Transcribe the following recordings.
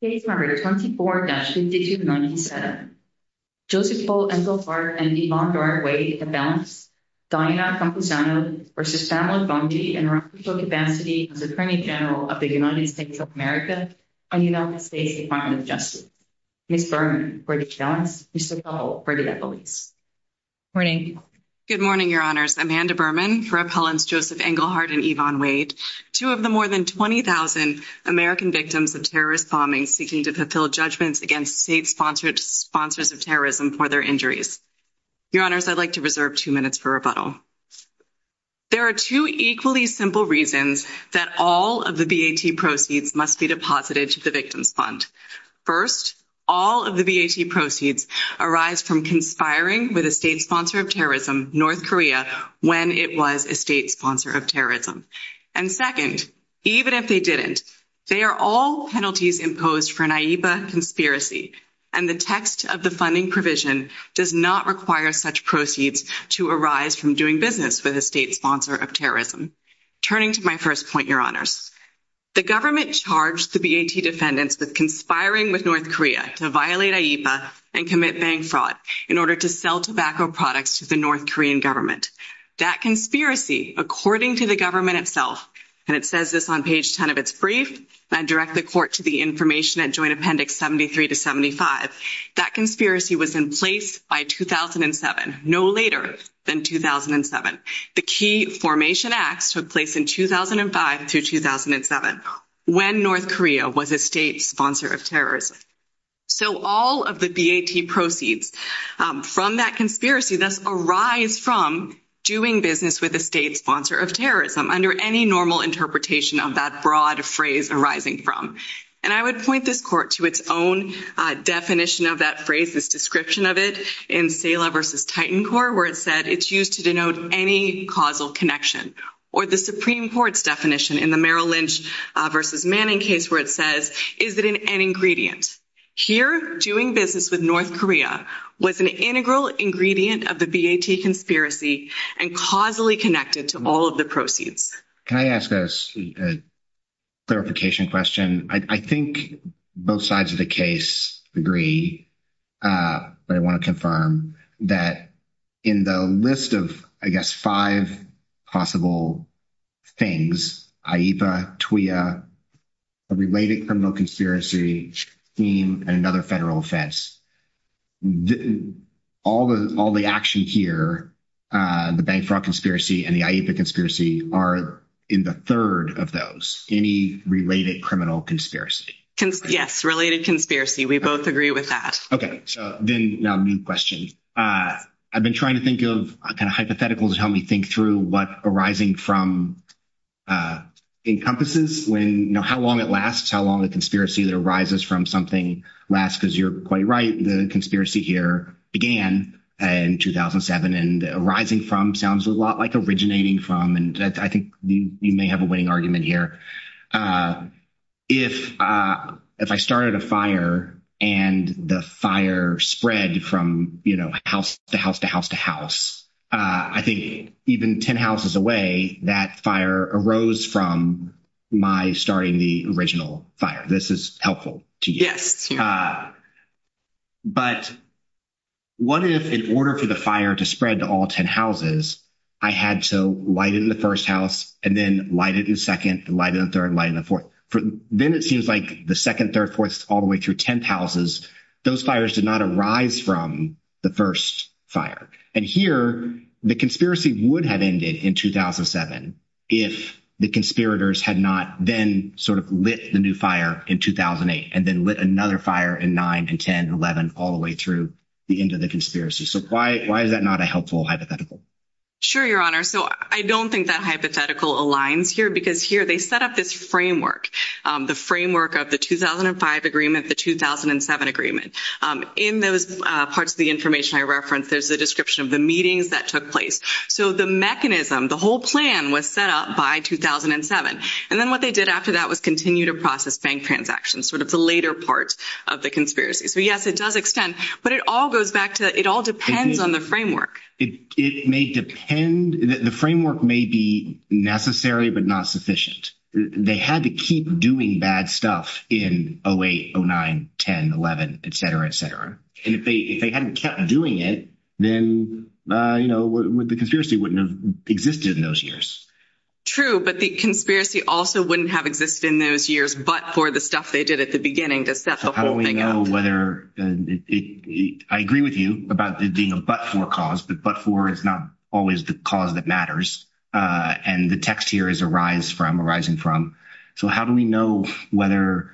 Case number 24-5297. Joseph Paul Englehardt v. Yvonne Wade appellants Diana Campuzano v. Pamela Bondi and Rafael Capacity as Attorney General of the United States of America and United States Department of Justice. Ms. Berman for the appellants, Mr. Powell for the appellees. Good morning. Good morning, Your Honors. Amanda Berman for appellants Joseph Englehardt and Yvonne Wade, two of the more than 20,000 American victims of terrorist bombing seeking to fulfill judgments against state sponsors of terrorism for their injuries. Your Honors, I'd like to reserve two minutes for rebuttal. There are two equally simple reasons that all of the BAT proceeds must be deposited to the victim's fund. First, all of the BAT proceeds arise from conspiring with a state sponsor of terrorism, North Korea, when it was a state sponsor of terrorism. And second, even if they didn't, they are all penalties imposed for an IEPA conspiracy, and the text of the funding provision does not require such proceeds to arise from doing business with a state sponsor of terrorism. Turning to my first point, Your Honors, the government charged the BAT defendants with conspiring with North Korea to violate IEPA and commit bank fraud in order to sell tobacco products to the North Korean government. That conspiracy, according to the government itself, and it says this on page 10 of its brief, I direct the court to the information at Joint Appendix 73 to 75, that conspiracy was in place by 2007, no later than 2007. The Key Formation Acts took place in 2005 through 2007, when North Korea was a state sponsor of terrorism. So all of the BAT proceeds from that conspiracy thus arise from doing business with a state sponsor of terrorism under any normal interpretation of that broad phrase arising from. And I would point this court to its own definition of that phrase, this description of it, in Sela v. Titan Corp., where it said it's used to denote any causal connection. Or the Supreme Court's definition in the Merrill Lynch v. Manning case where it says, is it an ingredient? Here, doing business with North Korea was an integral ingredient of the BAT conspiracy and causally connected to all of the proceeds. Can I ask a clarification question? I think both sides of the case agree, but I want to confirm that in the list of, I guess, five possible things, IEPA, TWA, a related criminal conspiracy, scheme, and another federal offense. All the action here, the Bank Fraud Conspiracy and the IEPA Conspiracy, are in the third of those, any related criminal conspiracy. Yes, related conspiracy. We both agree with that. Okay, so then a new question. I've been trying to think of a kind of hypothetical to help me think through what arising from encompasses. How long it lasts, how long the conspiracy that arises from something lasts, because you're quite right, the conspiracy here began in 2007. And arising from sounds a lot like originating from, and I think you may have a winning argument here. If I started a fire and the fire spread from house to house to house to house, I think even 10 houses away, that fire arose from my starting the original fire. This is helpful to you. But what if in order for the fire to spread to all 10 houses, I had to light it in the first house and then light it in the second, light it in the third, light it in the fourth. Then it seems like the second, third, fourth, all the way through 10th houses, those fires did not arise from the first fire. And here, the conspiracy would have ended in 2007 if the conspirators had not then sort of lit the new fire in 2008 and then lit another fire in 9 and 10, 11, all the way through the end of the conspiracy. So, why is that not a helpful hypothetical? Sure, Your Honor. So, I don't think that hypothetical aligns here because here they set up this framework, the framework of the 2005 agreement, the 2007 agreement. In those parts of the information I referenced, there's a description of the meetings that took place. So, the mechanism, the whole plan was set up by 2007. And then what they did after that was continue to process bank transactions, sort of the later part of the conspiracy. So, yes, it does extend. But it all goes back to it all depends on the framework. It may depend. The framework may be necessary but not sufficient. They had to keep doing bad stuff in 08, 09, 10, 11, et cetera, et cetera. And if they hadn't kept doing it, then, you know, the conspiracy wouldn't have existed in those years. True, but the conspiracy also wouldn't have existed in those years but for the stuff they did at the beginning to set the whole thing up. I agree with you about it being a but-for cause. But but-for is not always the cause that matters. And the text here is arise from, arising from. So, how do we know whether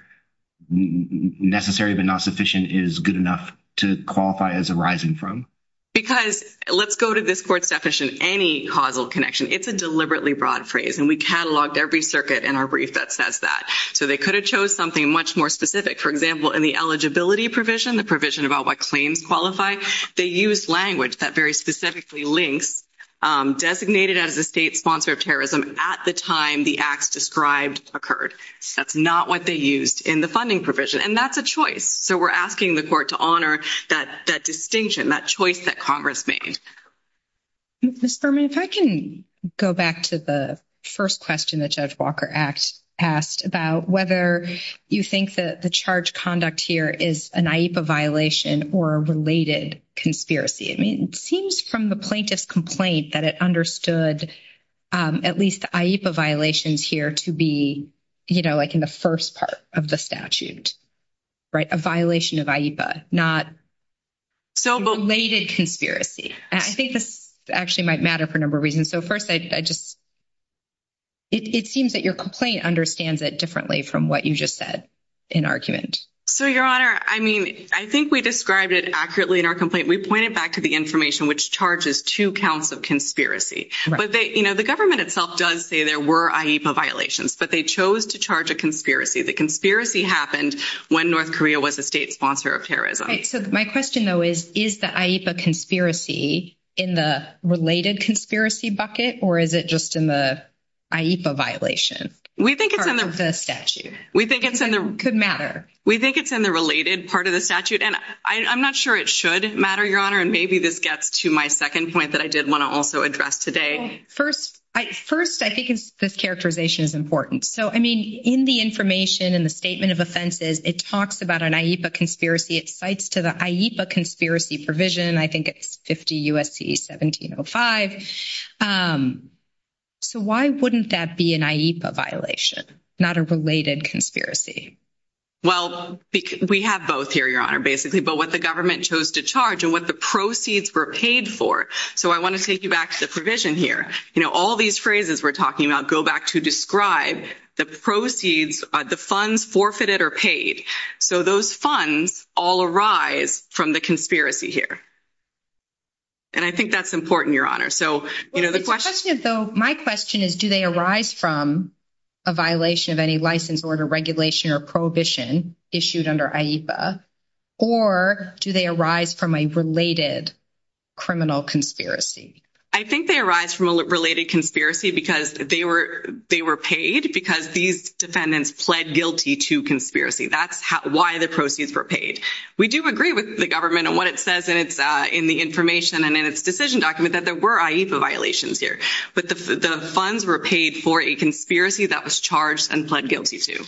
necessary but not sufficient is good enough to qualify as arising from? Because let's go to this court's definition, any causal connection. It's a deliberately broad phrase. And we cataloged every circuit in our brief that says that. So, they could have chose something much more specific. For example, in the eligibility provision, the provision about what claims qualify, they used language that very specifically links designated as a state sponsor of terrorism at the time the acts described occurred. That's not what they used in the funding provision. And that's a choice. So, we're asking the court to honor that distinction, that choice that Congress made. Ms. Berman, if I can go back to the first question that Judge Walker asked about whether you think that the charge conduct here is an IEPA violation or a related conspiracy. I mean, it seems from the plaintiff's complaint that it understood at least the IEPA violations here to be, you know, like in the first part of the statute, right, a violation of IEPA, not related conspiracy. And I think this actually might matter for a number of reasons. So, first, I just, it seems that your complaint understands it differently from what you just said in argument. So, Your Honor, I mean, I think we described it accurately in our complaint. We pointed back to the information which charges two counts of conspiracy. But, you know, the government itself does say there were IEPA violations, but they chose to charge a conspiracy. The conspiracy happened when North Korea was a state sponsor of terrorism. So, my question, though, is, is the IEPA conspiracy in the related conspiracy bucket or is it just in the IEPA violation? We think it's in the statute. We think it's in the related part of the statute. And I'm not sure it should matter, Your Honor. And maybe this gets to my second point that I did want to also address today. First, I think this characterization is important. So, I mean, in the information in the statement of offenses, it talks about an IEPA conspiracy. It cites to the IEPA conspiracy provision. I think it's 50 U.S.C. 1705. So, why wouldn't that be an IEPA violation, not a related conspiracy? Well, we have both here, Your Honor, basically. But what the government chose to charge and what the proceeds were paid for. So, I want to take you back to the provision here. You know, all these phrases we're talking about go back to describe the proceeds, the funds forfeited or paid. So, those funds all arise from the conspiracy here. And I think that's important, Your Honor. So, you know, the question. My question is, do they arise from a violation of any license, order, regulation, or prohibition issued under IEPA? Or do they arise from a related criminal conspiracy? I think they arise from a related conspiracy because they were paid because these defendants pled guilty to conspiracy. That's why the proceeds were paid. We do agree with the government on what it says in the information and in its decision document that there were IEPA violations here. But the funds were paid for a conspiracy that was charged and pled guilty to.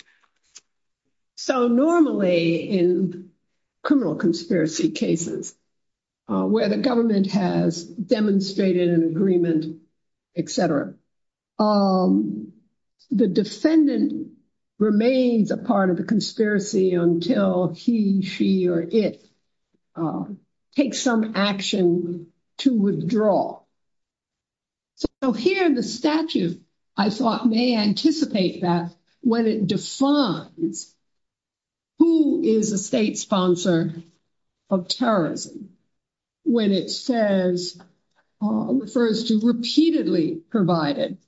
So, normally in criminal conspiracy cases where the government has demonstrated an agreement, et cetera, the defendant remains a part of the conspiracy until he, she, or it takes some action to withdraw. So, here the statute, I thought, may anticipate that when it defines who is a state sponsor of terrorism. When it says, refers to repeatedly provided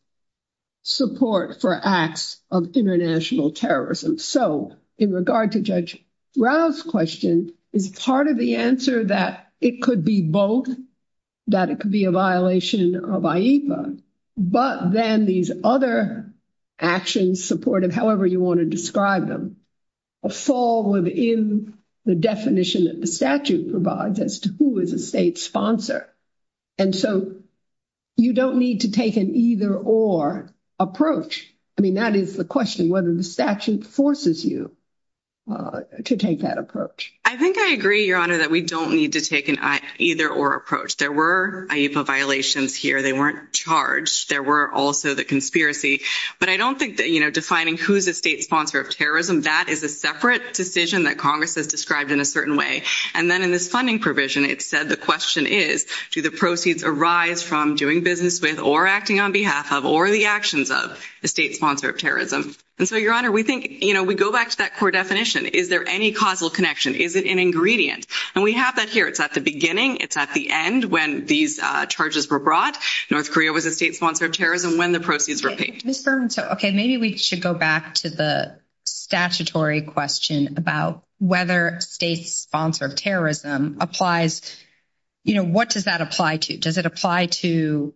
support for acts of international terrorism. So, in regard to Judge Rao's question, is part of the answer that it could be both? That it could be a violation of IEPA? But then these other actions, supportive however you want to describe them, fall within the definition that the statute provides as to who is a state sponsor. And so, you don't need to take an either or approach. I mean, that is the question, whether the statute forces you to take that approach. I think I agree, Your Honor, that we don't need to take an either or approach. There were IEPA violations here. They weren't charged. There were also the conspiracy. But I don't think that, you know, defining who is a state sponsor of terrorism, that is a separate decision that Congress has described in a certain way. And then in this funding provision, it said the question is, do the proceeds arise from doing business with, or acting on behalf of, or the actions of a state sponsor of terrorism? And so, Your Honor, we think, you know, we go back to that core definition. Is there any causal connection? Is it an ingredient? And we have that here. It's at the beginning. It's at the end when these charges were brought. North Korea was a state sponsor of terrorism when the proceeds were paid. Ms. Berman, so, okay, maybe we should go back to the statutory question about whether state sponsor of terrorism applies, you know, what does that apply to? Does it apply to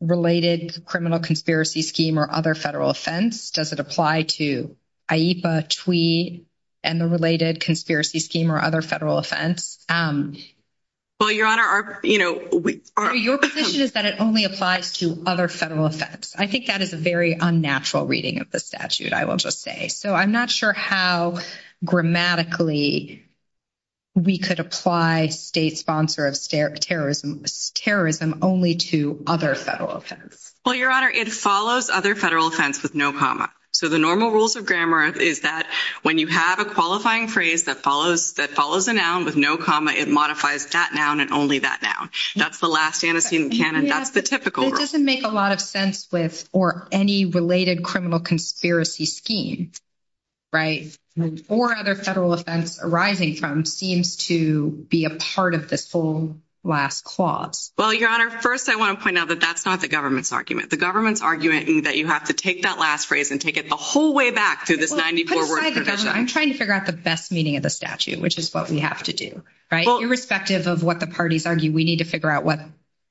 related criminal conspiracy scheme or other federal offense? Does it apply to IEPA, TWE, and the related conspiracy scheme or other federal offense? Well, Your Honor, our, you know, we. Your position is that it only applies to other federal offense. I think that is a very unnatural reading of the statute, I will just say. So I'm not sure how grammatically we could apply state sponsor of terrorism only to other federal offense. Well, Your Honor, it follows other federal offense with no comma. So the normal rules of grammar is that when you have a qualifying phrase that follows a noun with no comma, it modifies that noun and only that noun. That's the last antecedent canon. That's the typical rule. It doesn't make a lot of sense with or any related criminal conspiracy scheme, right? Or other federal offense arising from seems to be a part of this whole last clause. Well, Your Honor, first I want to point out that that's not the government's argument. The government's argument is that you have to take that last phrase and take it the whole way back to this 94-word tradition. I'm trying to figure out the best meaning of the statute, which is what we have to do, right? Irrespective of what the parties argue, we need to figure out what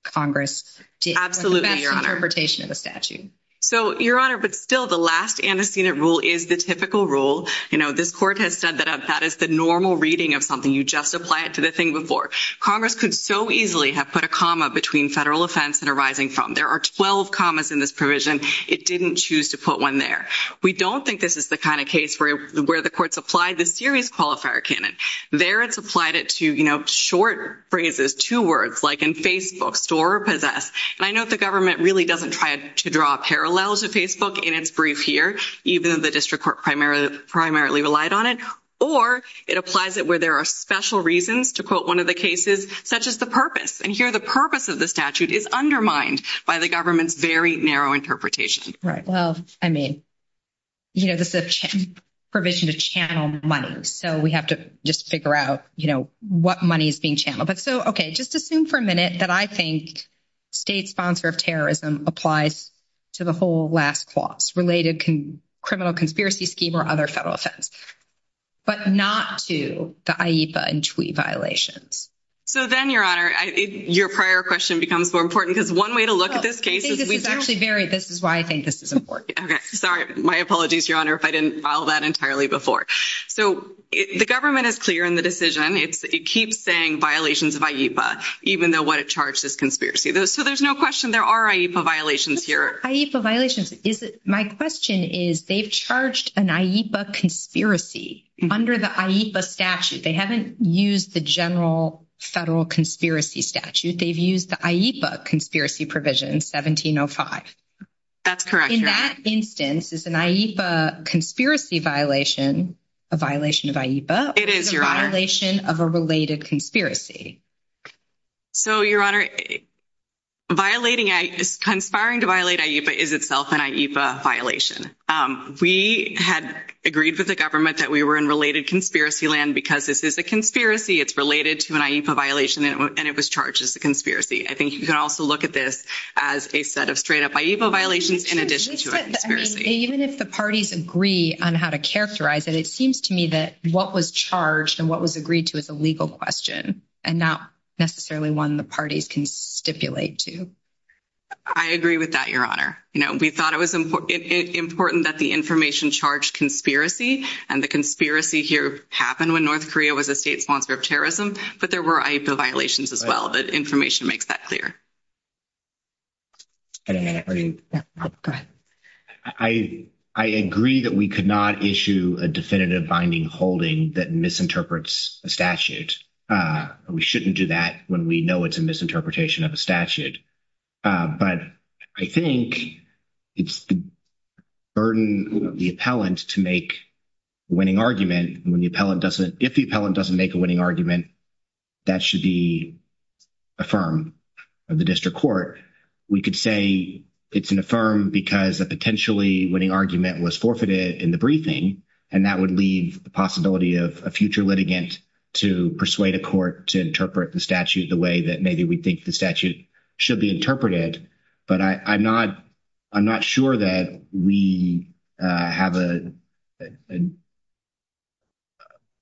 Congress did. Absolutely, Your Honor. The best interpretation of the statute. So, Your Honor, but still the last antecedent rule is the typical rule. You know, this court has said that that is the normal reading of something. You just apply it to the thing before. Congress could so easily have put a comma between federal offense and arising from. There are 12 commas in this provision. It didn't choose to put one there. We don't think this is the kind of case where the court supplied the serious qualifier canon. There it's applied it to, you know, short phrases, two words, like in Facebook, store or possess. And I note the government really doesn't try to draw parallels to Facebook in its brief here, even though the district court primarily relied on it. Or it applies it where there are special reasons to quote one of the cases, such as the purpose. And here the purpose of the statute is undermined by the government's very narrow interpretation. Right. Well, I mean, you know, this is a provision to channel money. So we have to just figure out, you know, what money is being channeled. But so, okay. Just assume for a minute that I think state sponsor of terrorism applies to the whole last clause, related criminal conspiracy scheme or other federal offense, but not to the IEPA and TWEA violations. So then, Your Honor, your prior question becomes more important because one way to look at this case is we do. This is why I think this is important. Okay. Sorry. My apologies, Your Honor, if I didn't file that entirely before. So the government is clear in the decision. It keeps saying violations of IEPA, even though what it charged is conspiracy. So there's no question there are IEPA violations here. IEPA violations. My question is they've charged an IEPA conspiracy under the IEPA statute. They haven't used the general federal conspiracy statute. They've used the IEPA conspiracy provision, 1705. That's correct, Your Honor. So in that instance, is an IEPA conspiracy violation a violation of IEPA? It is, Your Honor. Or is it a violation of a related conspiracy? So, Your Honor, conspiring to violate IEPA is itself an IEPA violation. We had agreed with the government that we were in related conspiracy land because this is a conspiracy. It's related to an IEPA violation, and it was charged as a conspiracy. I think you can also look at this as a set of straight-up IEPA violations in addition to a conspiracy. Even if the parties agree on how to characterize it, it seems to me that what was charged and what was agreed to is a legal question and not necessarily one the parties can stipulate to. I agree with that, Your Honor. We thought it was important that the information charged conspiracy, and the conspiracy here happened when North Korea was a state sponsor of terrorism, but there were IEPA violations as well. The information makes that clear. I agree that we could not issue a definitive binding holding that misinterprets a statute. We shouldn't do that when we know it's a misinterpretation of a statute. But I think it's the burden of the appellant to make a winning argument. If the appellant doesn't make a winning argument, that should be affirmed in the district court. We could say it's an affirm because a potentially winning argument was forfeited in the briefing, and that would leave the possibility of a future litigant to persuade a court to interpret the statute the way that maybe we think the statute should be interpreted. But I'm not sure that we have a –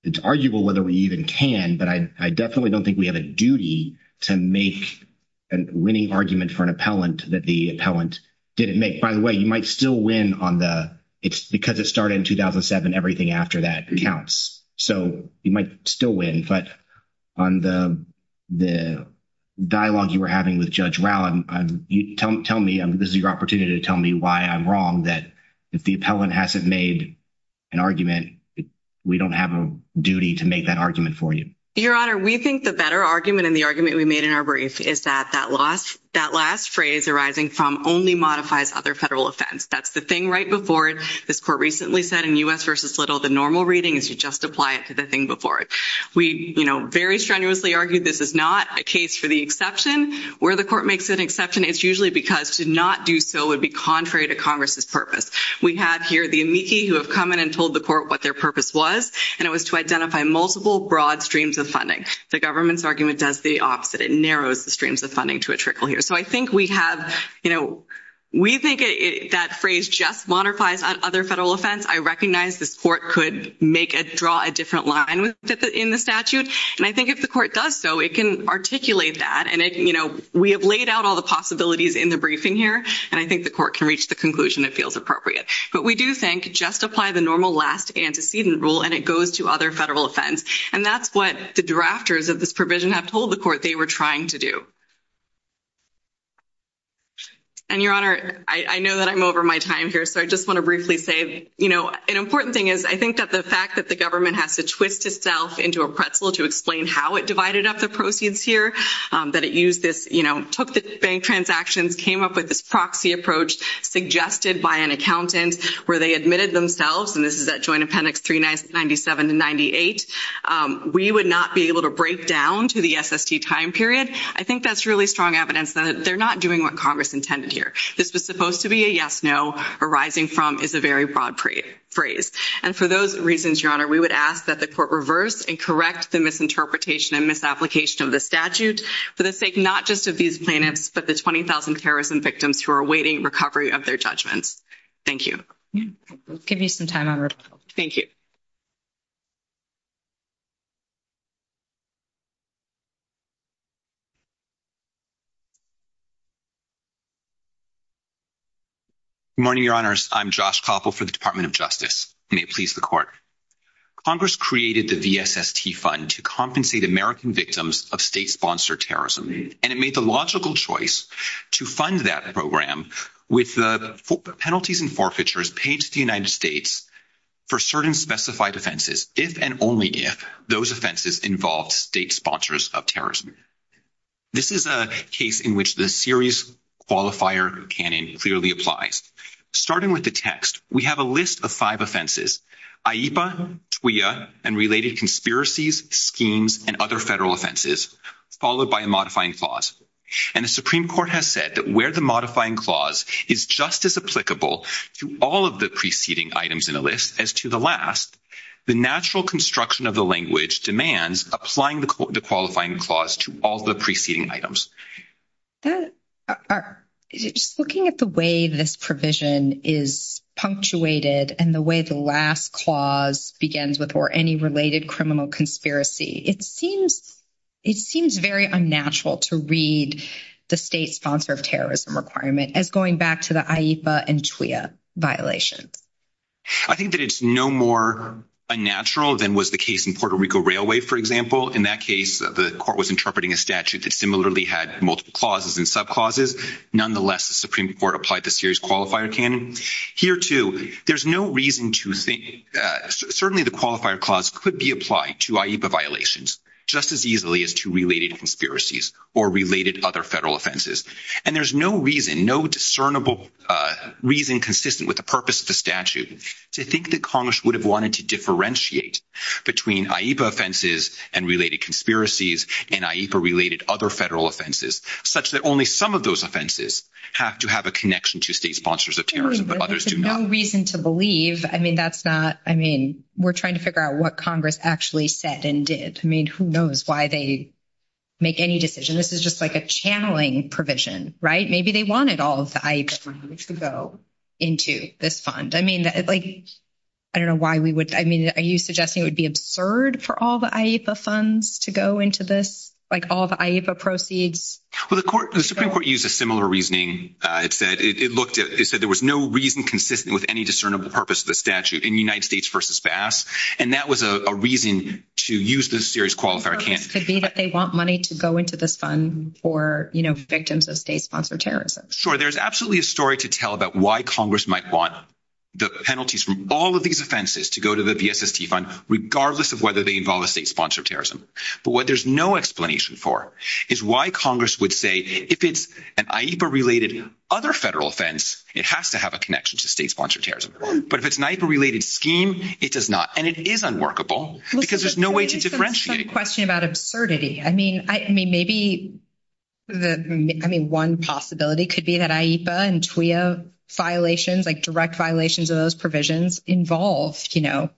it's arguable whether we even can, but I definitely don't think we have a duty to make a winning argument for an appellant that the appellant didn't make. By the way, you might still win on the – because it started in 2007, everything after that counts. So you might still win, but on the dialogue you were having with Judge Rowland, tell me – this is your opportunity to tell me why I'm wrong that if the appellant hasn't made an argument, we don't have a duty to make that argument for you. Your Honor, we think the better argument, and the argument we made in our brief, is that that last phrase arising from only modifies other federal offense. That's the thing right before it. This court recently said in U.S. v. Little, the normal reading is you just apply it to the thing before it. We very strenuously argue this is not a case for the exception. Where the court makes an exception, it's usually because to not do so would be contrary to Congress's purpose. We have here the amici who have come in and told the court what their purpose was, and it was to identify multiple broad streams of funding. The government's argument does the opposite. It narrows the streams of funding to a trickle here. So I think we have – we think that phrase just modifies other federal offense. I recognize this court could make a – draw a different line in the statute, and I think if the court does so, it can articulate that. And we have laid out all the possibilities in the briefing here, and I think the court can reach the conclusion that feels appropriate. But we do think just apply the normal last antecedent rule, and it goes to other federal offense. And that's what the drafters of this provision have told the court they were trying to do. And, Your Honor, I know that I'm over my time here, so I just want to briefly say, you know, an important thing is I think that the fact that the government has to twist itself into a pretzel to explain how it divided up the proceeds here, that it used this, you know, took the bank transactions, came up with this proxy approach suggested by an accountant where they admitted themselves, and this is at Joint Appendix 397 to 98. We would not be able to break down to the SST time period. I think that's really strong evidence that they're not doing what Congress intended here. This was supposed to be a yes-no arising from is a very broad phrase. And for those reasons, Your Honor, we would ask that the court reverse and correct the misinterpretation and misapplication of the statute for the sake not just of these plaintiffs, but the 20,000 terrorism victims who are awaiting recovery of their judgments. Thank you. We'll give you some time, Honor. Thank you. Good morning, Your Honors. I'm Josh Koppel for the Department of Justice. May it please the court. Congress created the VSST Fund to compensate American victims of state-sponsored terrorism, and it made the logical choice to fund that program with the penalties and forfeitures paid to the United States for certain specified offenses, if and only if those offenses involved state sponsors of terrorism. This is a case in which the series qualifier canon clearly applies. Starting with the text, we have a list of five offenses, IEPA, TWAIA, and related conspiracies, schemes, and other federal offenses, followed by a modifying clause. And the Supreme Court has said that where the modifying clause is just as applicable to all of the preceding items in the list as to the last, the natural construction of the language demands applying the qualifying clause to all the preceding items. Just looking at the way this provision is punctuated and the way the last clause begins with, or any related criminal conspiracy, it seems very unnatural to read the state sponsor of terrorism requirement as going back to the IEPA and TWAIA violations. I think that it's no more unnatural than was the case in Puerto Rico Railway, for example. In that case, the court was interpreting a statute that similarly had multiple clauses and subclauses. Nonetheless, the Supreme Court applied the series qualifier canon. Here, too, there's no reason to think – certainly the qualifier clause could be applied to IEPA violations just as easily as to related conspiracies or related other federal offenses. And there's no reason, no discernible reason consistent with the purpose of the statute to think that Congress would have wanted to differentiate between IEPA offenses and related conspiracies and IEPA-related other federal offenses such that only some of those offenses have to have a connection to state sponsors of terrorism, but others do not. There's no reason to believe. I mean, that's not – I mean, we're trying to figure out what Congress actually said and did. I mean, who knows why they make any decision. This is just like a channeling provision, right? Maybe they wanted all of the IEPA funds to go into this fund. I mean, like I don't know why we would – I mean, are you suggesting it would be absurd for all the IEPA funds to go into this, like all the IEPA proceeds? Well, the Supreme Court used a similar reasoning. It said there was no reason consistent with any discernible purpose of the statute in United States v. Bass, and that was a reason to use the series qualifier canon. The other reason could be that they want money to go into this fund for, you know, victims of state-sponsored terrorism. Sure. There's absolutely a story to tell about why Congress might want the penalties from all of these offenses to go to the VSST fund regardless of whether they involve a state-sponsored terrorism. But what there's no explanation for is why Congress would say if it's an IEPA-related other federal offense, it has to have a connection to state-sponsored terrorism. But if it's an IEPA-related scheme, it does not. And it is unworkable because there's no way to differentiate. It's not a question about absurdity. I mean, maybe one possibility could be that IEPA and TWAIA violations, like direct violations of those provisions, involve, you know,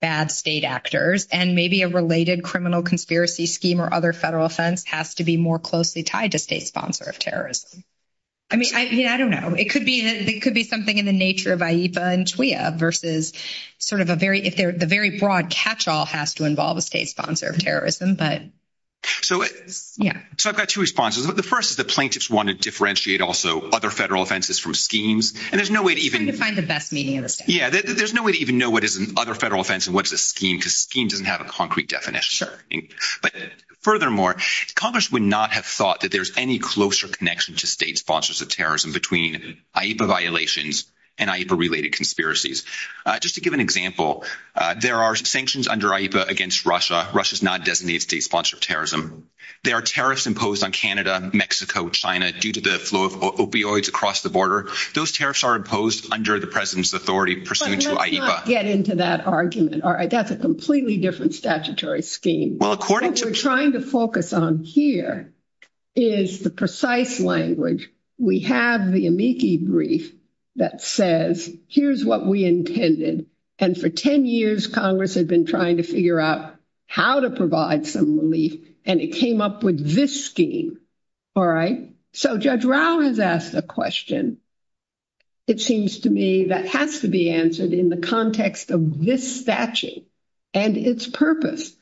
bad state actors, and maybe a related criminal conspiracy scheme or other federal offense has to be more closely tied to state-sponsored terrorism. I mean, I don't know. It could be something in the nature of IEPA and TWAIA versus sort of a very – it has to involve a state-sponsored terrorism. But, yeah. So I've got two responses. The first is that plaintiffs want to differentiate also other federal offenses from schemes. And there's no way to even – Trying to find the best meaning of the statement. Yeah. There's no way to even know what is an other federal offense and what is a scheme because scheme doesn't have a concrete definition. But furthermore, Congress would not have thought that there's any closer connection to state-sponsored terrorism between IEPA violations and IEPA-related conspiracies. Just to give an example, there are sanctions under IEPA against Russia. Russia is not a designated state-sponsored terrorism. There are tariffs imposed on Canada, Mexico, China due to the flow of opioids across the border. Those tariffs are imposed under the President's authority pursuant to IEPA. But let's not get into that argument. That's a completely different statutory scheme. Well, according to – What we're trying to focus on here is the precise language. We have the amici brief that says, here's what we intended. And for 10 years, Congress had been trying to figure out how to provide some relief and it came up with this scheme. All right? So Judge Rao has asked a question, it seems to me, that has to be answered in the context of this statute and its purpose.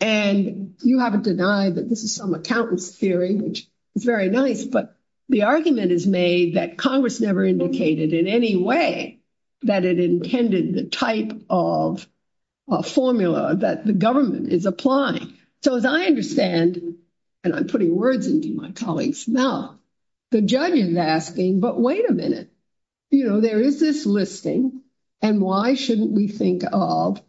And you haven't denied that this is some accountant's theory, which is very nice, but the argument is made that Congress never indicated in any way that it intended the type of formula that the government is applying. So as I understand, and I'm putting words into my colleagues now, the judge is asking, but wait a minute, you know, there is this listing, and why shouldn't we think of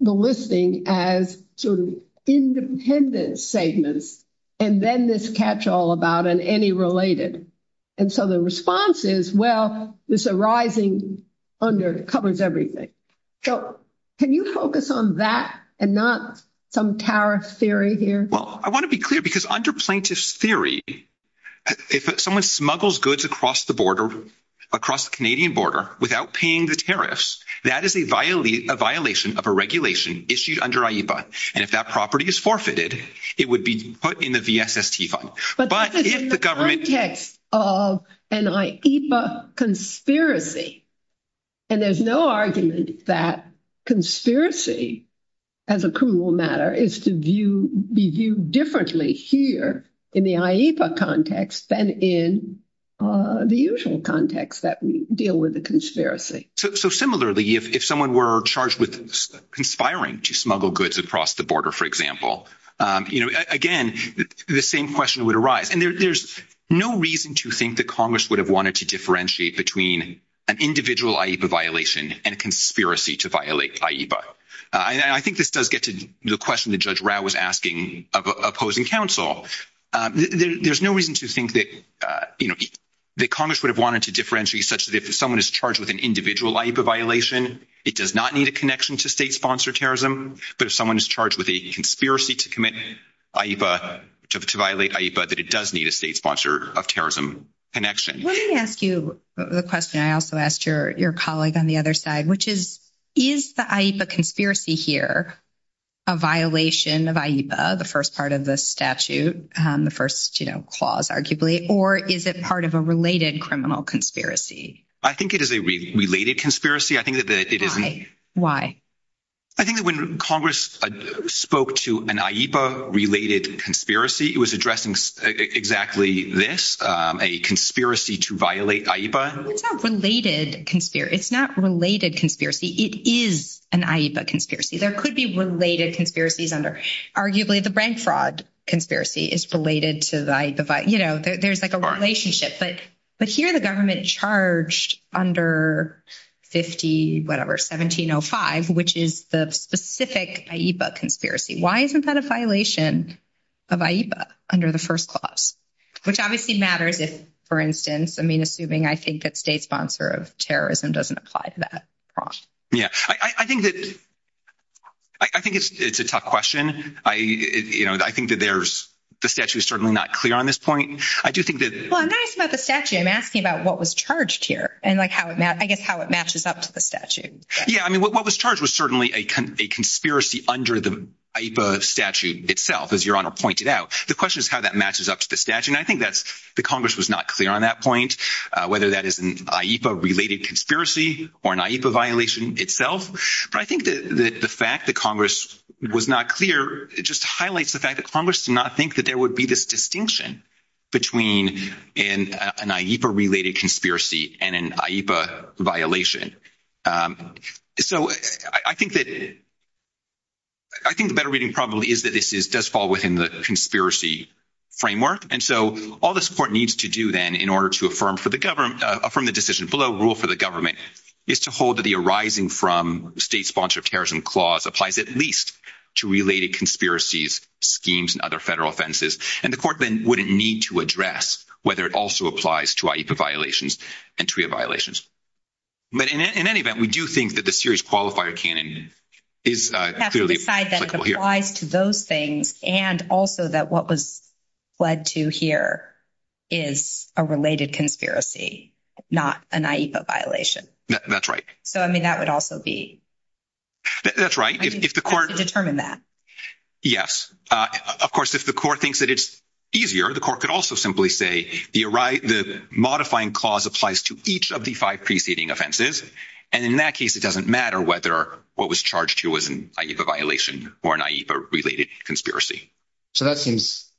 the listing as sort of independent statements and then this catch-all about and any related? And so the response is, well, this arising under covers everything. So can you focus on that and not some tariff theory here? Well, I want to be clear because under plaintiff's theory, if someone smuggles goods across the Canadian border without paying the tariffs, that is a violation of a regulation issued under IEPA. And if that property is forfeited, it would be put in the VSST fund. But this is in the context of an IEPA conspiracy, and there's no argument that conspiracy, as a criminal matter, is to be viewed differently here in the IEPA context than in the usual context that we deal with the conspiracy. So similarly, if someone were charged with conspiring to smuggle goods across the border, for example, you know, again, the same question would arise. And there's no reason to think that Congress would have wanted to differentiate between an individual IEPA violation and a conspiracy to violate IEPA. I think this does get to the question that Judge Rao was asking of opposing counsel. There's no reason to think that, you know, that Congress would have wanted to differentiate such that if someone is charged with an individual IEPA violation, it does not need a connection to state-sponsored terrorism. But if someone is charged with a conspiracy to commit IEPA, to violate IEPA, that it does need a state-sponsored terrorism connection. Let me ask you the question I also asked your colleague on the other side, which is, is the IEPA conspiracy here a violation of IEPA, the first part of the statute, the first, you know, clause, arguably, or is it part of a related criminal conspiracy? I think it is a related conspiracy. I think that it isn't. I think that when Congress spoke to an IEPA-related conspiracy, it was addressing exactly this, a conspiracy to violate IEPA. It's not related conspiracy. It is an IEPA conspiracy. There could be related conspiracies under, arguably, the bank fraud conspiracy is related to the IEPA. You know, there's like a relationship, but here the government charged under 50, whatever, 1705, which is the specific IEPA conspiracy. Why isn't that a violation of IEPA under the first clause? Which obviously matters if, for instance, I mean, assuming I think that state-sponsored terrorism doesn't apply to that. Yeah, I think that, I think it's a tough question. I, you know, I think that there's, the statute is certainly not clear on this point. I do think that... Well, I'm not asking about the statute. I'm asking about what was charged here and like how it, I guess, how it matches up to the statute. Yeah, I mean, what was charged was certainly a conspiracy under the IEPA statute itself, as Your Honor pointed out. The question is how that matches up to the statute. And I think that's, the Congress was not clear on that point, whether that is an IEPA-related conspiracy or an IEPA violation itself. But I think that the fact that Congress was not clear just highlights the fact that Congress did not think that there would be this distinction between an IEPA-related conspiracy and an IEPA violation. So, I think that, I think the better reading probably is that this is, does fall within the conspiracy framework. And so, all this court needs to do then in order to affirm for the government, affirm the decision below rule for the government is to hold that the arising from state-sponsored terrorism clause applies at least to related conspiracies, schemes, and other federal offenses. And the court then wouldn't need to address whether it also applies to IEPA violations and TRIA violations. But in any event, we do think that the serious qualifier canon is clearly applicable here. It applies to those things and also that what was led to here is a related conspiracy, not an IEPA violation. That's right. So, I mean, that would also be. That's right. If the court. Determine that. Yes. Of course, if the court thinks that it's easier, the court could also simply say, the modifying clause applies to each of the five preceding offenses. And in that case, it doesn't matter whether what was charged here was an IEPA violation or an IEPA related conspiracy. So, that seems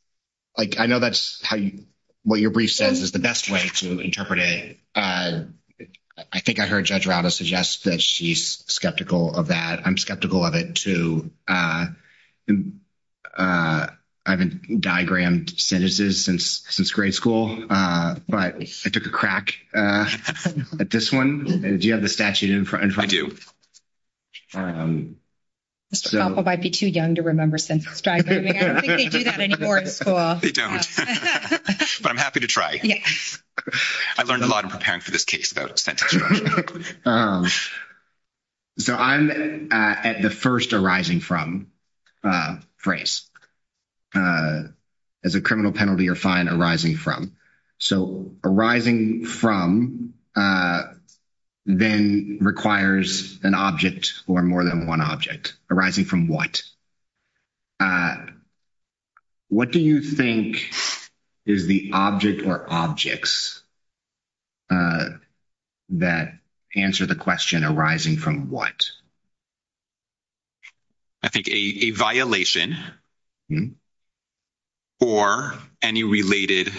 like I know that's how you. What your brief says is the best way to interpret it. I think I heard Judge Rauta suggest that she's skeptical of that. I'm skeptical of it too. I haven't diagrammed sentences since grade school, but I took a crack at this one. Do you have the statute in front of you? Mr. Koppel might be too young to remember sentence diagramming. I don't think they do that anymore in school. They don't. But I'm happy to try. I learned a lot in preparing for this case about sentence diagramming. So, I'm at the first arising from phrase. As a criminal penalty or fine arising from. So, arising from then requires an object or more than one object. Arising from what? What do you think is the object or objects that answer the question arising from what? I think a violation or any related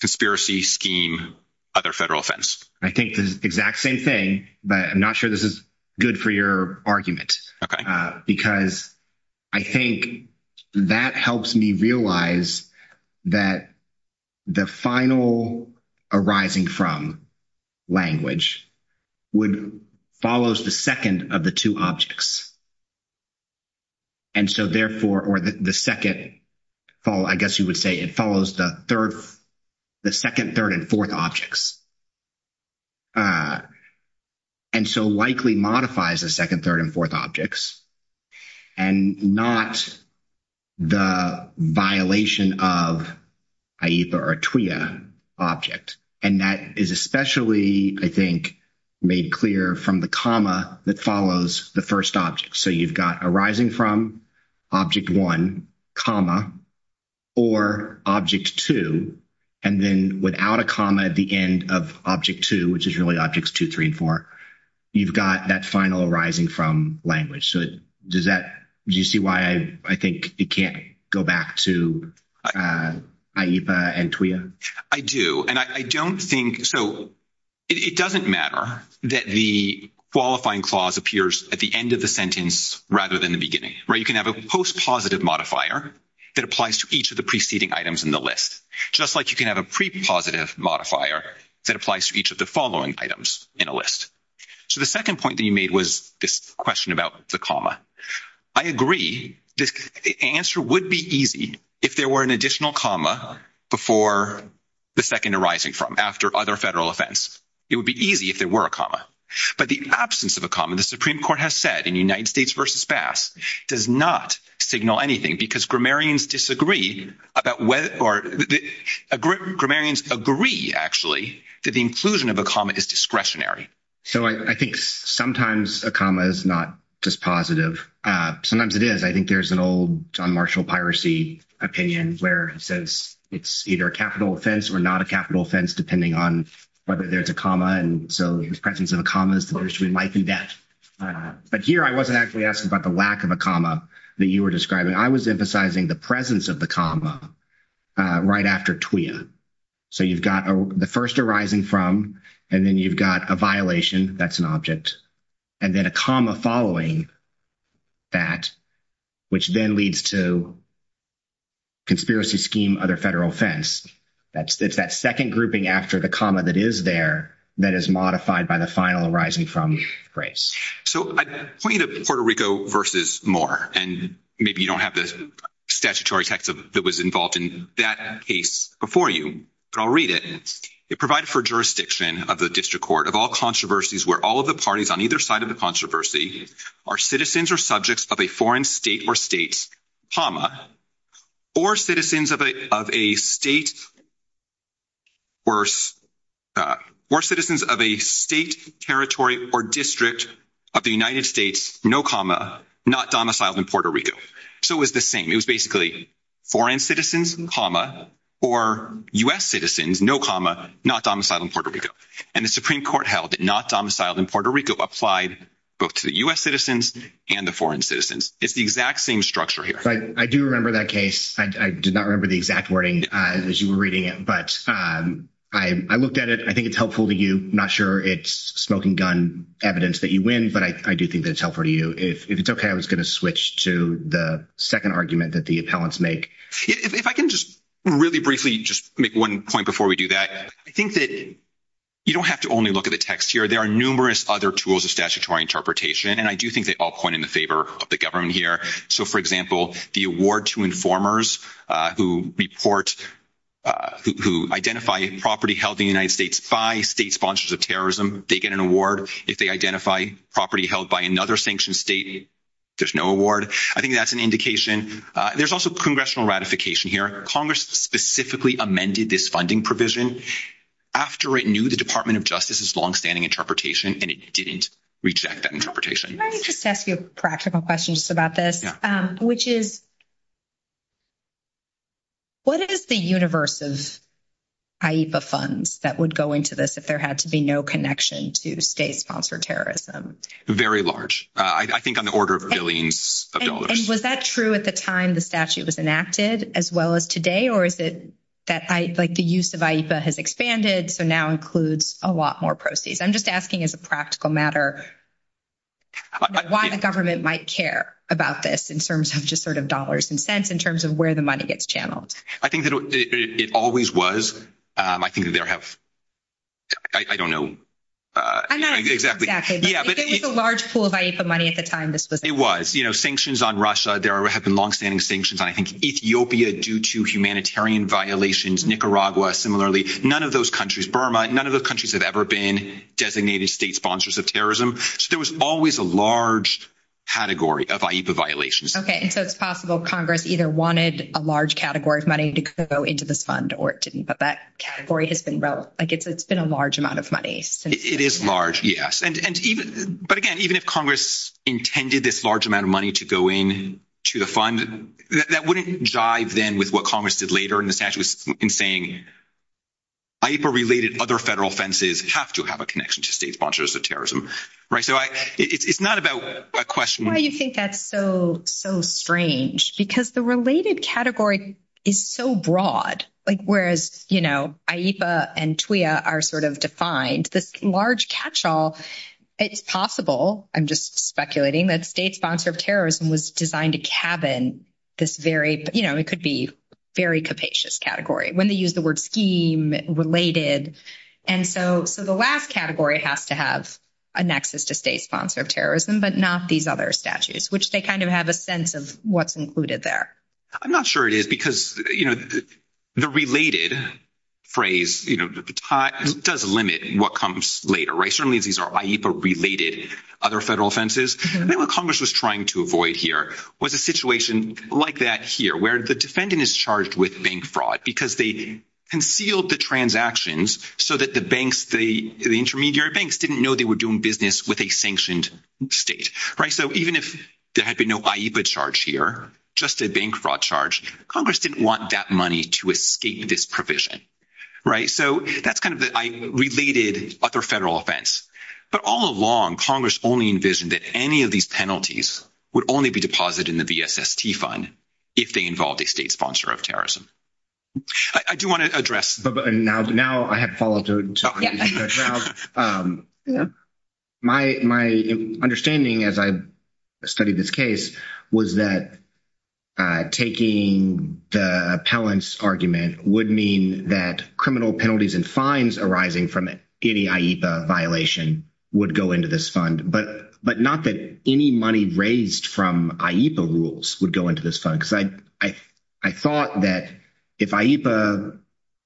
conspiracy scheme, other federal offense. I think the exact same thing, but I'm not sure this is good for your argument. Okay. Because I think that helps me realize that the final arising from language follows the second of the two objects. And so, therefore, or the second, I guess you would say it follows the third, the second, third, and fourth objects. And so, likely modifies the second, third, and fourth objects. And not the violation of either a TWA object. And that is especially, I think, made clear from the comma that follows the first object. So, you've got arising from, object one, comma, or object two. And then without a comma at the end of object two, which is really objects two, three, and four. You've got that final arising from language. So, does that, do you see why I think it can't go back to AIPA and TWA? I do. And I don't think, so, it doesn't matter that the qualifying clause appears at the end of the sentence rather than the beginning. Right, you can have a post-positive modifier that applies to each of the preceding items in the list. Just like you can have a pre-positive modifier that applies to each of the following items in a list. So, the second point that you made was this question about the comma. I agree, the answer would be easy if there were an additional comma before the second arising from, after other federal offense. It would be easy if there were a comma. But the absence of a comma, the Supreme Court has said in United States v. Bass, does not signal anything. Because grammarians disagree about whether, grammarians agree, actually, that the inclusion of a comma is discretionary. So, I think sometimes a comma is not just positive. Sometimes it is. I think there's an old John Marshall piracy opinion where it says it's either a capital offense or not a capital offense depending on whether there's a comma. And so, the presence of a comma is the difference between life and death. But here I wasn't actually asking about the lack of a comma that you were describing. I was emphasizing the presence of the comma right after TWIA. So, you've got the first arising from, and then you've got a violation. That's an object. And then a comma following that, which then leads to conspiracy scheme other federal offense. It's that second grouping after the comma that is there that is modified by the final arising from phrase. So, I point you to Puerto Rico v. Moore. And maybe you don't have the statutory text that was involved in that case before you. But I'll read it. It provided for jurisdiction of the district court of all controversies where all of the parties on either side of the controversy are citizens or subjects of a foreign state or states, comma, or citizens of a state territory or district of the United States, no comma, not domiciled in Puerto Rico. So, it was the same. It was basically foreign citizens, comma, or U.S. citizens, no comma, not domiciled in Puerto Rico. And the Supreme Court held that not domiciled in Puerto Rico applied both to the U.S. citizens and the foreign citizens. It's the exact same structure here. I do remember that case. I did not remember the exact wording as you were reading it. But I looked at it. I think it's helpful to you. I'm not sure it's smoking gun evidence that you win, but I do think that it's helpful to you. If it's okay, I was going to switch to the second argument that the appellants make. If I can just really briefly just make one point before we do that, I think that you don't have to only look at the text here. There are numerous other tools of statutory interpretation, and I do think they all point in the favor of the government here. So, for example, the award to informers who report, who identify property held in the United States by state sponsors of terrorism, they get an award. If they identify property held by another sanctioned state, there's no award. I think that's an indication. There's also congressional ratification here. Congress specifically amended this funding provision after it knew the Department of Justice's longstanding interpretation, and it didn't reject that interpretation. Can I just ask you a practical question just about this, which is what is the universe of IEPA funds that would go into this if there had to be no connection to state-sponsored terrorism? Very large. I think on the order of billions of dollars. And was that true at the time the statute was enacted as well as today, or is it that the use of IEPA has expanded, so now includes a lot more proceeds? I'm just asking as a practical matter why the government might care about this in terms of just sort of dollars and cents in terms of where the money gets channeled. I think that it always was. I think that there have – I don't know. Exactly. Yeah, but it – It was a large pool of IEPA money at the time this was – It was. Sanctions on Russia, there have been longstanding sanctions on, I think, Ethiopia due to humanitarian violations, Nicaragua similarly. None of those countries, Burma, none of those countries have ever been designated state sponsors of terrorism. So there was always a large category of IEPA violations. Okay, and so it's possible Congress either wanted a large category of money to go into this fund or it didn't. But that category has been – like it's been a large amount of money since then. It is large, yes. But again, even if Congress intended this large amount of money to go into the fund, that wouldn't jive then with what Congress did later in the statute in saying IEPA-related other federal offenses have to have a connection to state sponsors of terrorism. Right? So it's not about a question – It's possible, I'm just speculating, that state sponsor of terrorism was designed to cabin this very – you know, it could be very capacious category when they use the word scheme-related. And so the last category has to have a nexus to state sponsor of terrorism but not these other statutes, which they kind of have a sense of what's included there. I'm not sure it is because, you know, the related phrase, you know, does limit what comes later. Certainly these are IEPA-related other federal offenses. I think what Congress was trying to avoid here was a situation like that here where the defendant is charged with bank fraud because they concealed the transactions so that the banks – the intermediary banks didn't know they were doing business with a sanctioned state. Right? So even if there had been no IEPA charge here, just a bank fraud charge, Congress didn't want that money to escape this provision. Right? So that's kind of the related other federal offense. But all along, Congress only envisioned that any of these penalties would only be deposited in the VSST fund if they involved a state sponsor of terrorism. I do want to address – My understanding as I studied this case was that taking the appellant's argument would mean that criminal penalties and fines arising from any IEPA violation would go into this fund, but not that any money raised from IEPA rules would go into this fund. Because I thought that if IEPA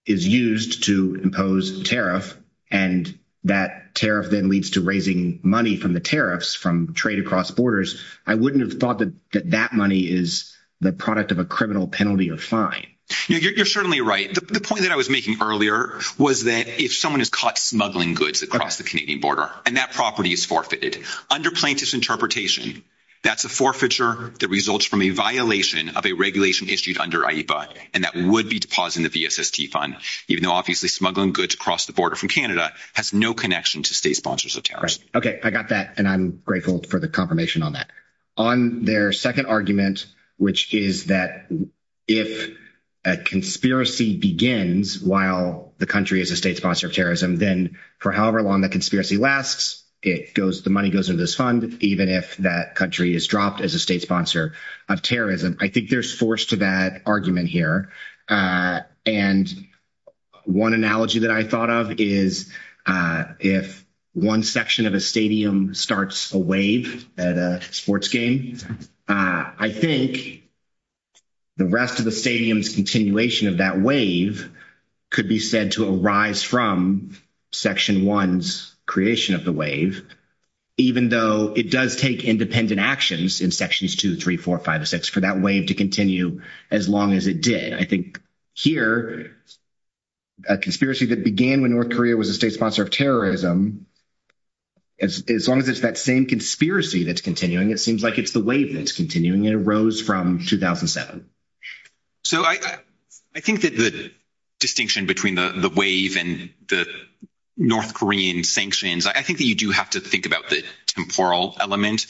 is used to impose tariff and that tariff then leads to raising money from the tariffs from trade across borders, I wouldn't have thought that that money is the product of a criminal penalty or fine. You're certainly right. The point that I was making earlier was that if someone is caught smuggling goods across the Canadian border and that property is forfeited, under plaintiff's interpretation, that's a forfeiture that results from a violation. Of a regulation issued under IEPA. And that would be deposited in the VSST fund. Even though obviously smuggling goods across the border from Canada has no connection to state sponsors of terrorism. Okay. I got that. And I'm grateful for the confirmation on that. On their second argument, which is that if a conspiracy begins while the country is a state sponsor of terrorism, then for however long the conspiracy lasts, the money goes into this fund, even if that country is dropped as a state sponsor of terrorism. I think there's force to that argument here. And one analogy that I thought of is if one section of a stadium starts a wave at a sports game, I think the rest of the stadium's continuation of that wave could be said to arise from section one's creation of the wave. Even though it does take independent actions in sections two, three, four, five, or six for that wave to continue as long as it did. I think here, a conspiracy that began when North Korea was a state sponsor of terrorism, as long as it's that same conspiracy that's continuing, it seems like it's the wave that's continuing and arose from 2007. I think that the distinction between the wave and the North Korean sanctions, I think that you do have to think about the temporal element.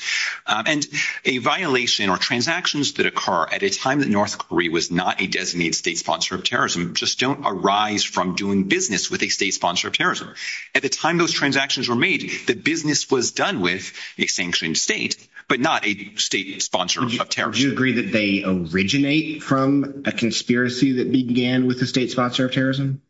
And a violation or transactions that occur at a time that North Korea was not a designated state sponsor of terrorism just don't arise from doing business with a state sponsor of terrorism. At the time those transactions were made, the business was done with a sanctioned state, but not a state sponsor of terrorism. Would you agree that they originate from a conspiracy that began with a state sponsor of terrorism?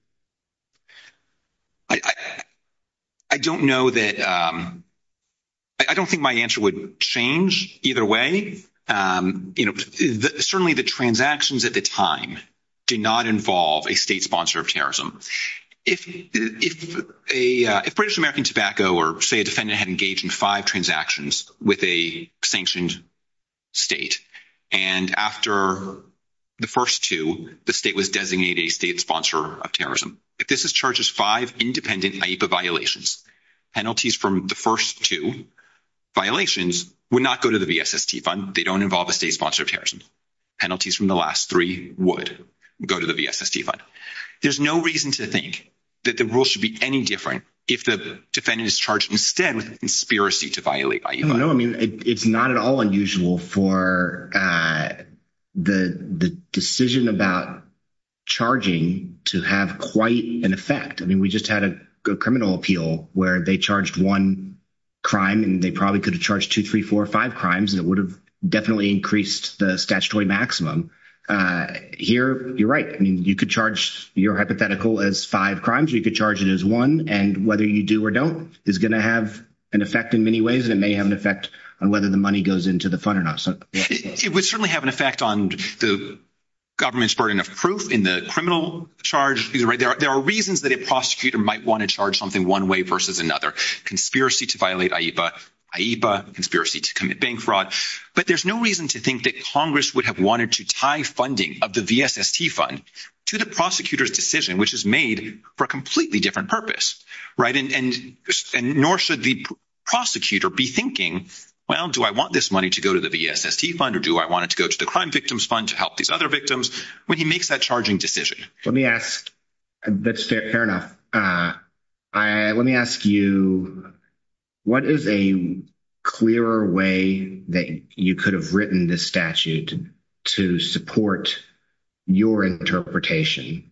I don't know that – I don't think my answer would change either way. Certainly, the transactions at the time did not involve a state sponsor of terrorism. If British American Tobacco or, say, a defendant had engaged in five transactions with a sanctioned state, and after the first two, the state was designated a state sponsor of terrorism. If this is charged as five independent AIPA violations, penalties from the first two violations would not go to the VSST fund. They don't involve a state sponsor of terrorism. Penalties from the last three would go to the VSST fund. There's no reason to think that the rule should be any different if the defendant is charged instead with a conspiracy to violate IEPA. No, I mean it's not at all unusual for the decision about charging to have quite an effect. I mean we just had a criminal appeal where they charged one crime, and they probably could have charged two, three, four, five crimes, and it would have definitely increased the statutory maximum. Here, you're right. I mean you could charge your hypothetical as five crimes, or you could charge it as one. And whether you do or don't is going to have an effect in many ways, and it may have an effect on whether the money goes into the fund or not. It would certainly have an effect on the government's burden of proof in the criminal charge. There are reasons that a prosecutor might want to charge something one way versus another. Conspiracy to violate IEPA, IEPA, conspiracy to commit bank fraud. But there's no reason to think that Congress would have wanted to tie funding of the VSST fund to the prosecutor's decision, which is made for a completely different purpose. And nor should the prosecutor be thinking, well, do I want this money to go to the VSST fund or do I want it to go to the Crime Victims Fund to help these other victims when he makes that charging decision? Fair enough. Let me ask you, what is a clearer way that you could have written this statute to support your interpretation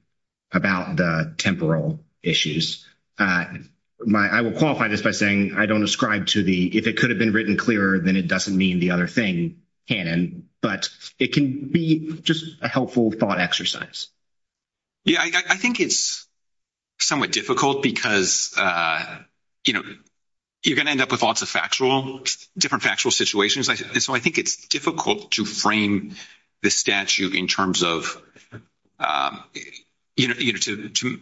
about the temporal issues? I will qualify this by saying I don't ascribe to the if it could have been written clearer, then it doesn't mean the other thing canon. But it can be just a helpful thought exercise. Yeah, I think it's somewhat difficult because, you know, you're going to end up with lots of factual, different factual situations. So I think it's difficult to frame the statute in terms of, you know, to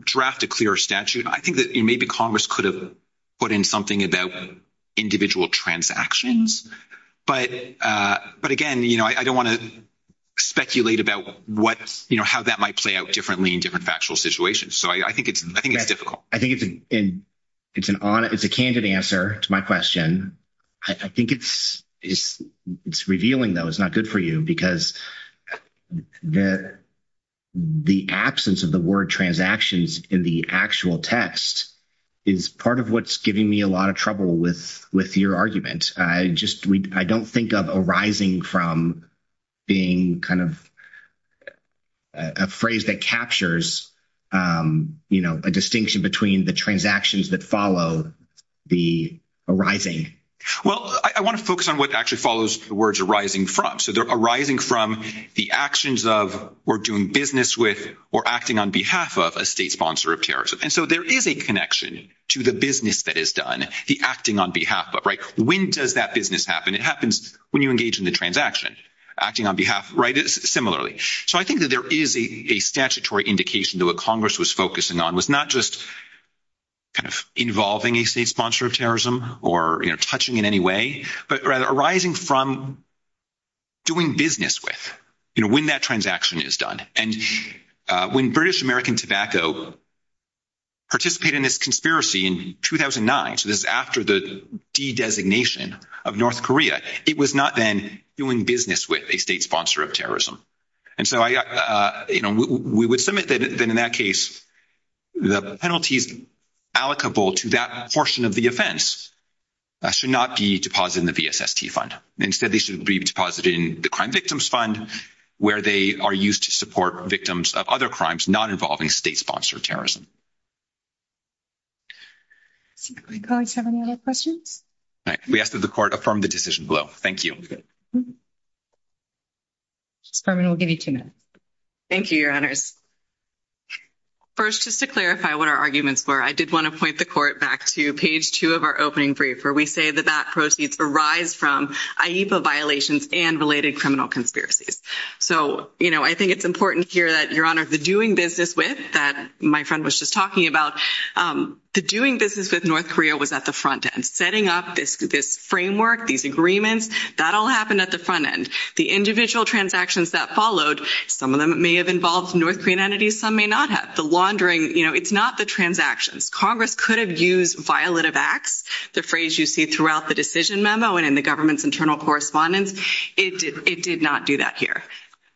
draft a clearer statute. I think that maybe Congress could have put in something about individual transactions. But again, you know, I don't want to speculate about what you know how that might play out differently in different factual situations. So I think it's I think it's difficult. I think it's an it's an it's a candid answer to my question. I think it's it's it's revealing, though, it's not good for you because the the absence of the word transactions in the actual test is part of what's giving me a lot of trouble with with your argument. I don't think of arising from being kind of a phrase that captures, you know, a distinction between the transactions that follow the arising. Well, I want to focus on what actually follows the words arising from. So they're arising from the actions of we're doing business with or acting on behalf of a state sponsor of terrorism. And so there is a connection to the business that is done. The acting on behalf of right. When does that business happen? It happens when you engage in the transaction acting on behalf. Right. Similarly. So I think that there is a statutory indication that what Congress was focusing on was not just kind of involving a state sponsor of terrorism or touching in any way, but rather arising from doing business with, you know, when that transaction is done. And when British American tobacco. Participate in this conspiracy in 2009, so this is after the designation of North Korea. It was not then doing business with a state sponsor of terrorism. And so, you know, we would submit that in that case, the penalties allocable to that portion of the offense should not be deposited in the VSST fund. Instead, they should be deposited in the Crime Victims Fund, where they are used to support victims of other crimes not involving state sponsor of terrorism. Do my colleagues have any other questions? We ask that the Court affirm the decision below. Thank you. Justice Berman, we'll give you two minutes. Thank you, Your Honors. First, just to clarify what our arguments were, I did want to point the Court back to page 2 of our opening briefer. We say that that proceeds arise from AIPA violations and related criminal conspiracies. So, you know, I think it's important here that, Your Honor, the doing business with, that my friend was just talking about, the doing business with North Korea was at the front end. Setting up this framework, these agreements, that all happened at the front end. The individual transactions that followed, some of them may have involved North Korean entities, some may not have. The laundering, you know, it's not the transactions. Congress could have used violative acts, the phrase you see throughout the decision memo and in the government's internal correspondence. It did not do that here.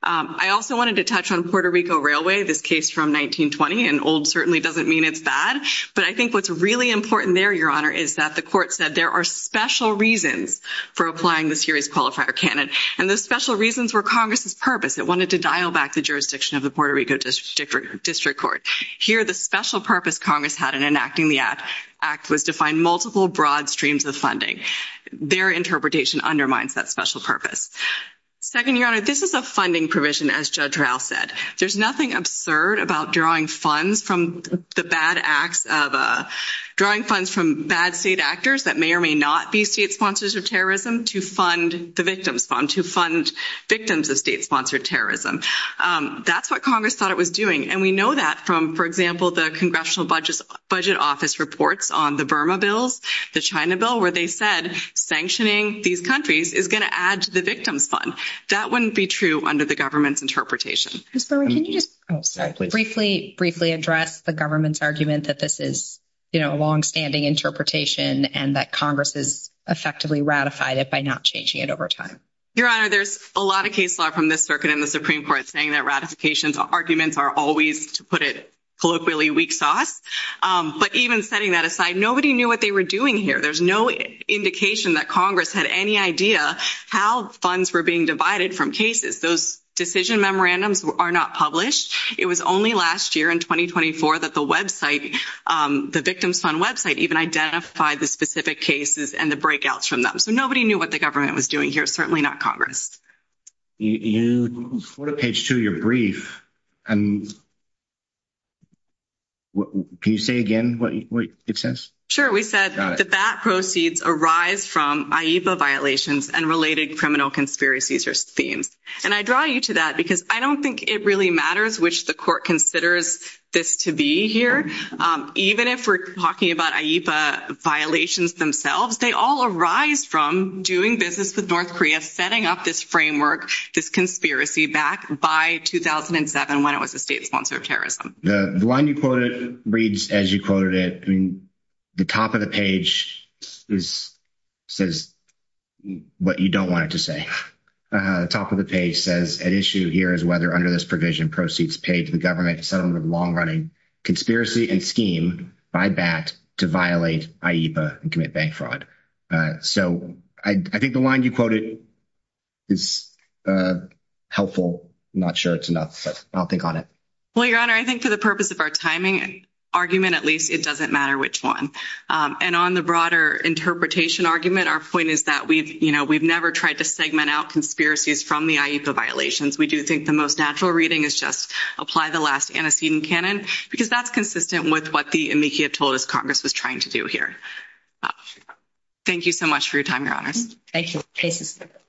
I also wanted to touch on Puerto Rico Railway, this case from 1920, and old certainly doesn't mean it's bad. But I think what's really important there, Your Honor, is that the Court said there are special reasons for applying the series qualifier canon. And those special reasons were Congress's purpose. It wanted to dial back the jurisdiction of the Puerto Rico District Court. Here, the special purpose Congress had in enacting the act was to find multiple broad streams of funding. Their interpretation undermines that special purpose. Second, Your Honor, this is a funding provision, as Judge Rao said. There's nothing absurd about drawing funds from bad state actors that may or may not be state sponsors of terrorism to fund the victims fund, to fund victims of state-sponsored terrorism. That's what Congress thought it was doing. And we know that from, for example, the Congressional Budget Office reports on the Burma bills, the China bill, where they said sanctioning these countries is going to add to the victims fund. That wouldn't be true under the government's interpretation. Ms. Bowman, can you just briefly address the government's argument that this is a longstanding interpretation and that Congress has effectively ratified it by not changing it over time? Your Honor, there's a lot of case law from this circuit and the Supreme Court saying that ratification arguments are always, to put it colloquially, weak sauce. But even setting that aside, nobody knew what they were doing here. There's no indication that Congress had any idea how funds were being divided from cases. Those decision memorandums are not published. It was only last year in 2024 that the website, the victims fund website, even identified the specific cases and the breakouts from them. So nobody knew what the government was doing here, certainly not Congress. You go to page two of your brief and can you say again what it says? Sure. We said that that proceeds arise from AIPA violations and related criminal conspiracies or schemes. And I draw you to that because I don't think it really matters which the court considers this to be here. Even if we're talking about AIPA violations themselves, they all arise from doing business with North Korea, setting up this framework, this conspiracy back by 2007 when it was a state sponsor of terrorism. The line you quoted reads as you quoted it. The top of the page says what you don't want it to say. The top of the page says an issue here is whether under this provision proceeds paid to the government, a settlement of long running conspiracy and scheme by BAT to violate AIPA and commit bank fraud. So I think the line you quoted is helpful. I'm not sure it's enough, but I'll think on it. Well, Your Honor, I think for the purpose of our timing argument, at least, it doesn't matter which one. And on the broader interpretation argument, our point is that we've never tried to segment out conspiracies from the AIPA violations. We do think the most natural reading is just apply the last antecedent canon because that's consistent with what the amici have told us Congress was trying to do here. Thank you so much for your time, Your Honors. Thank you.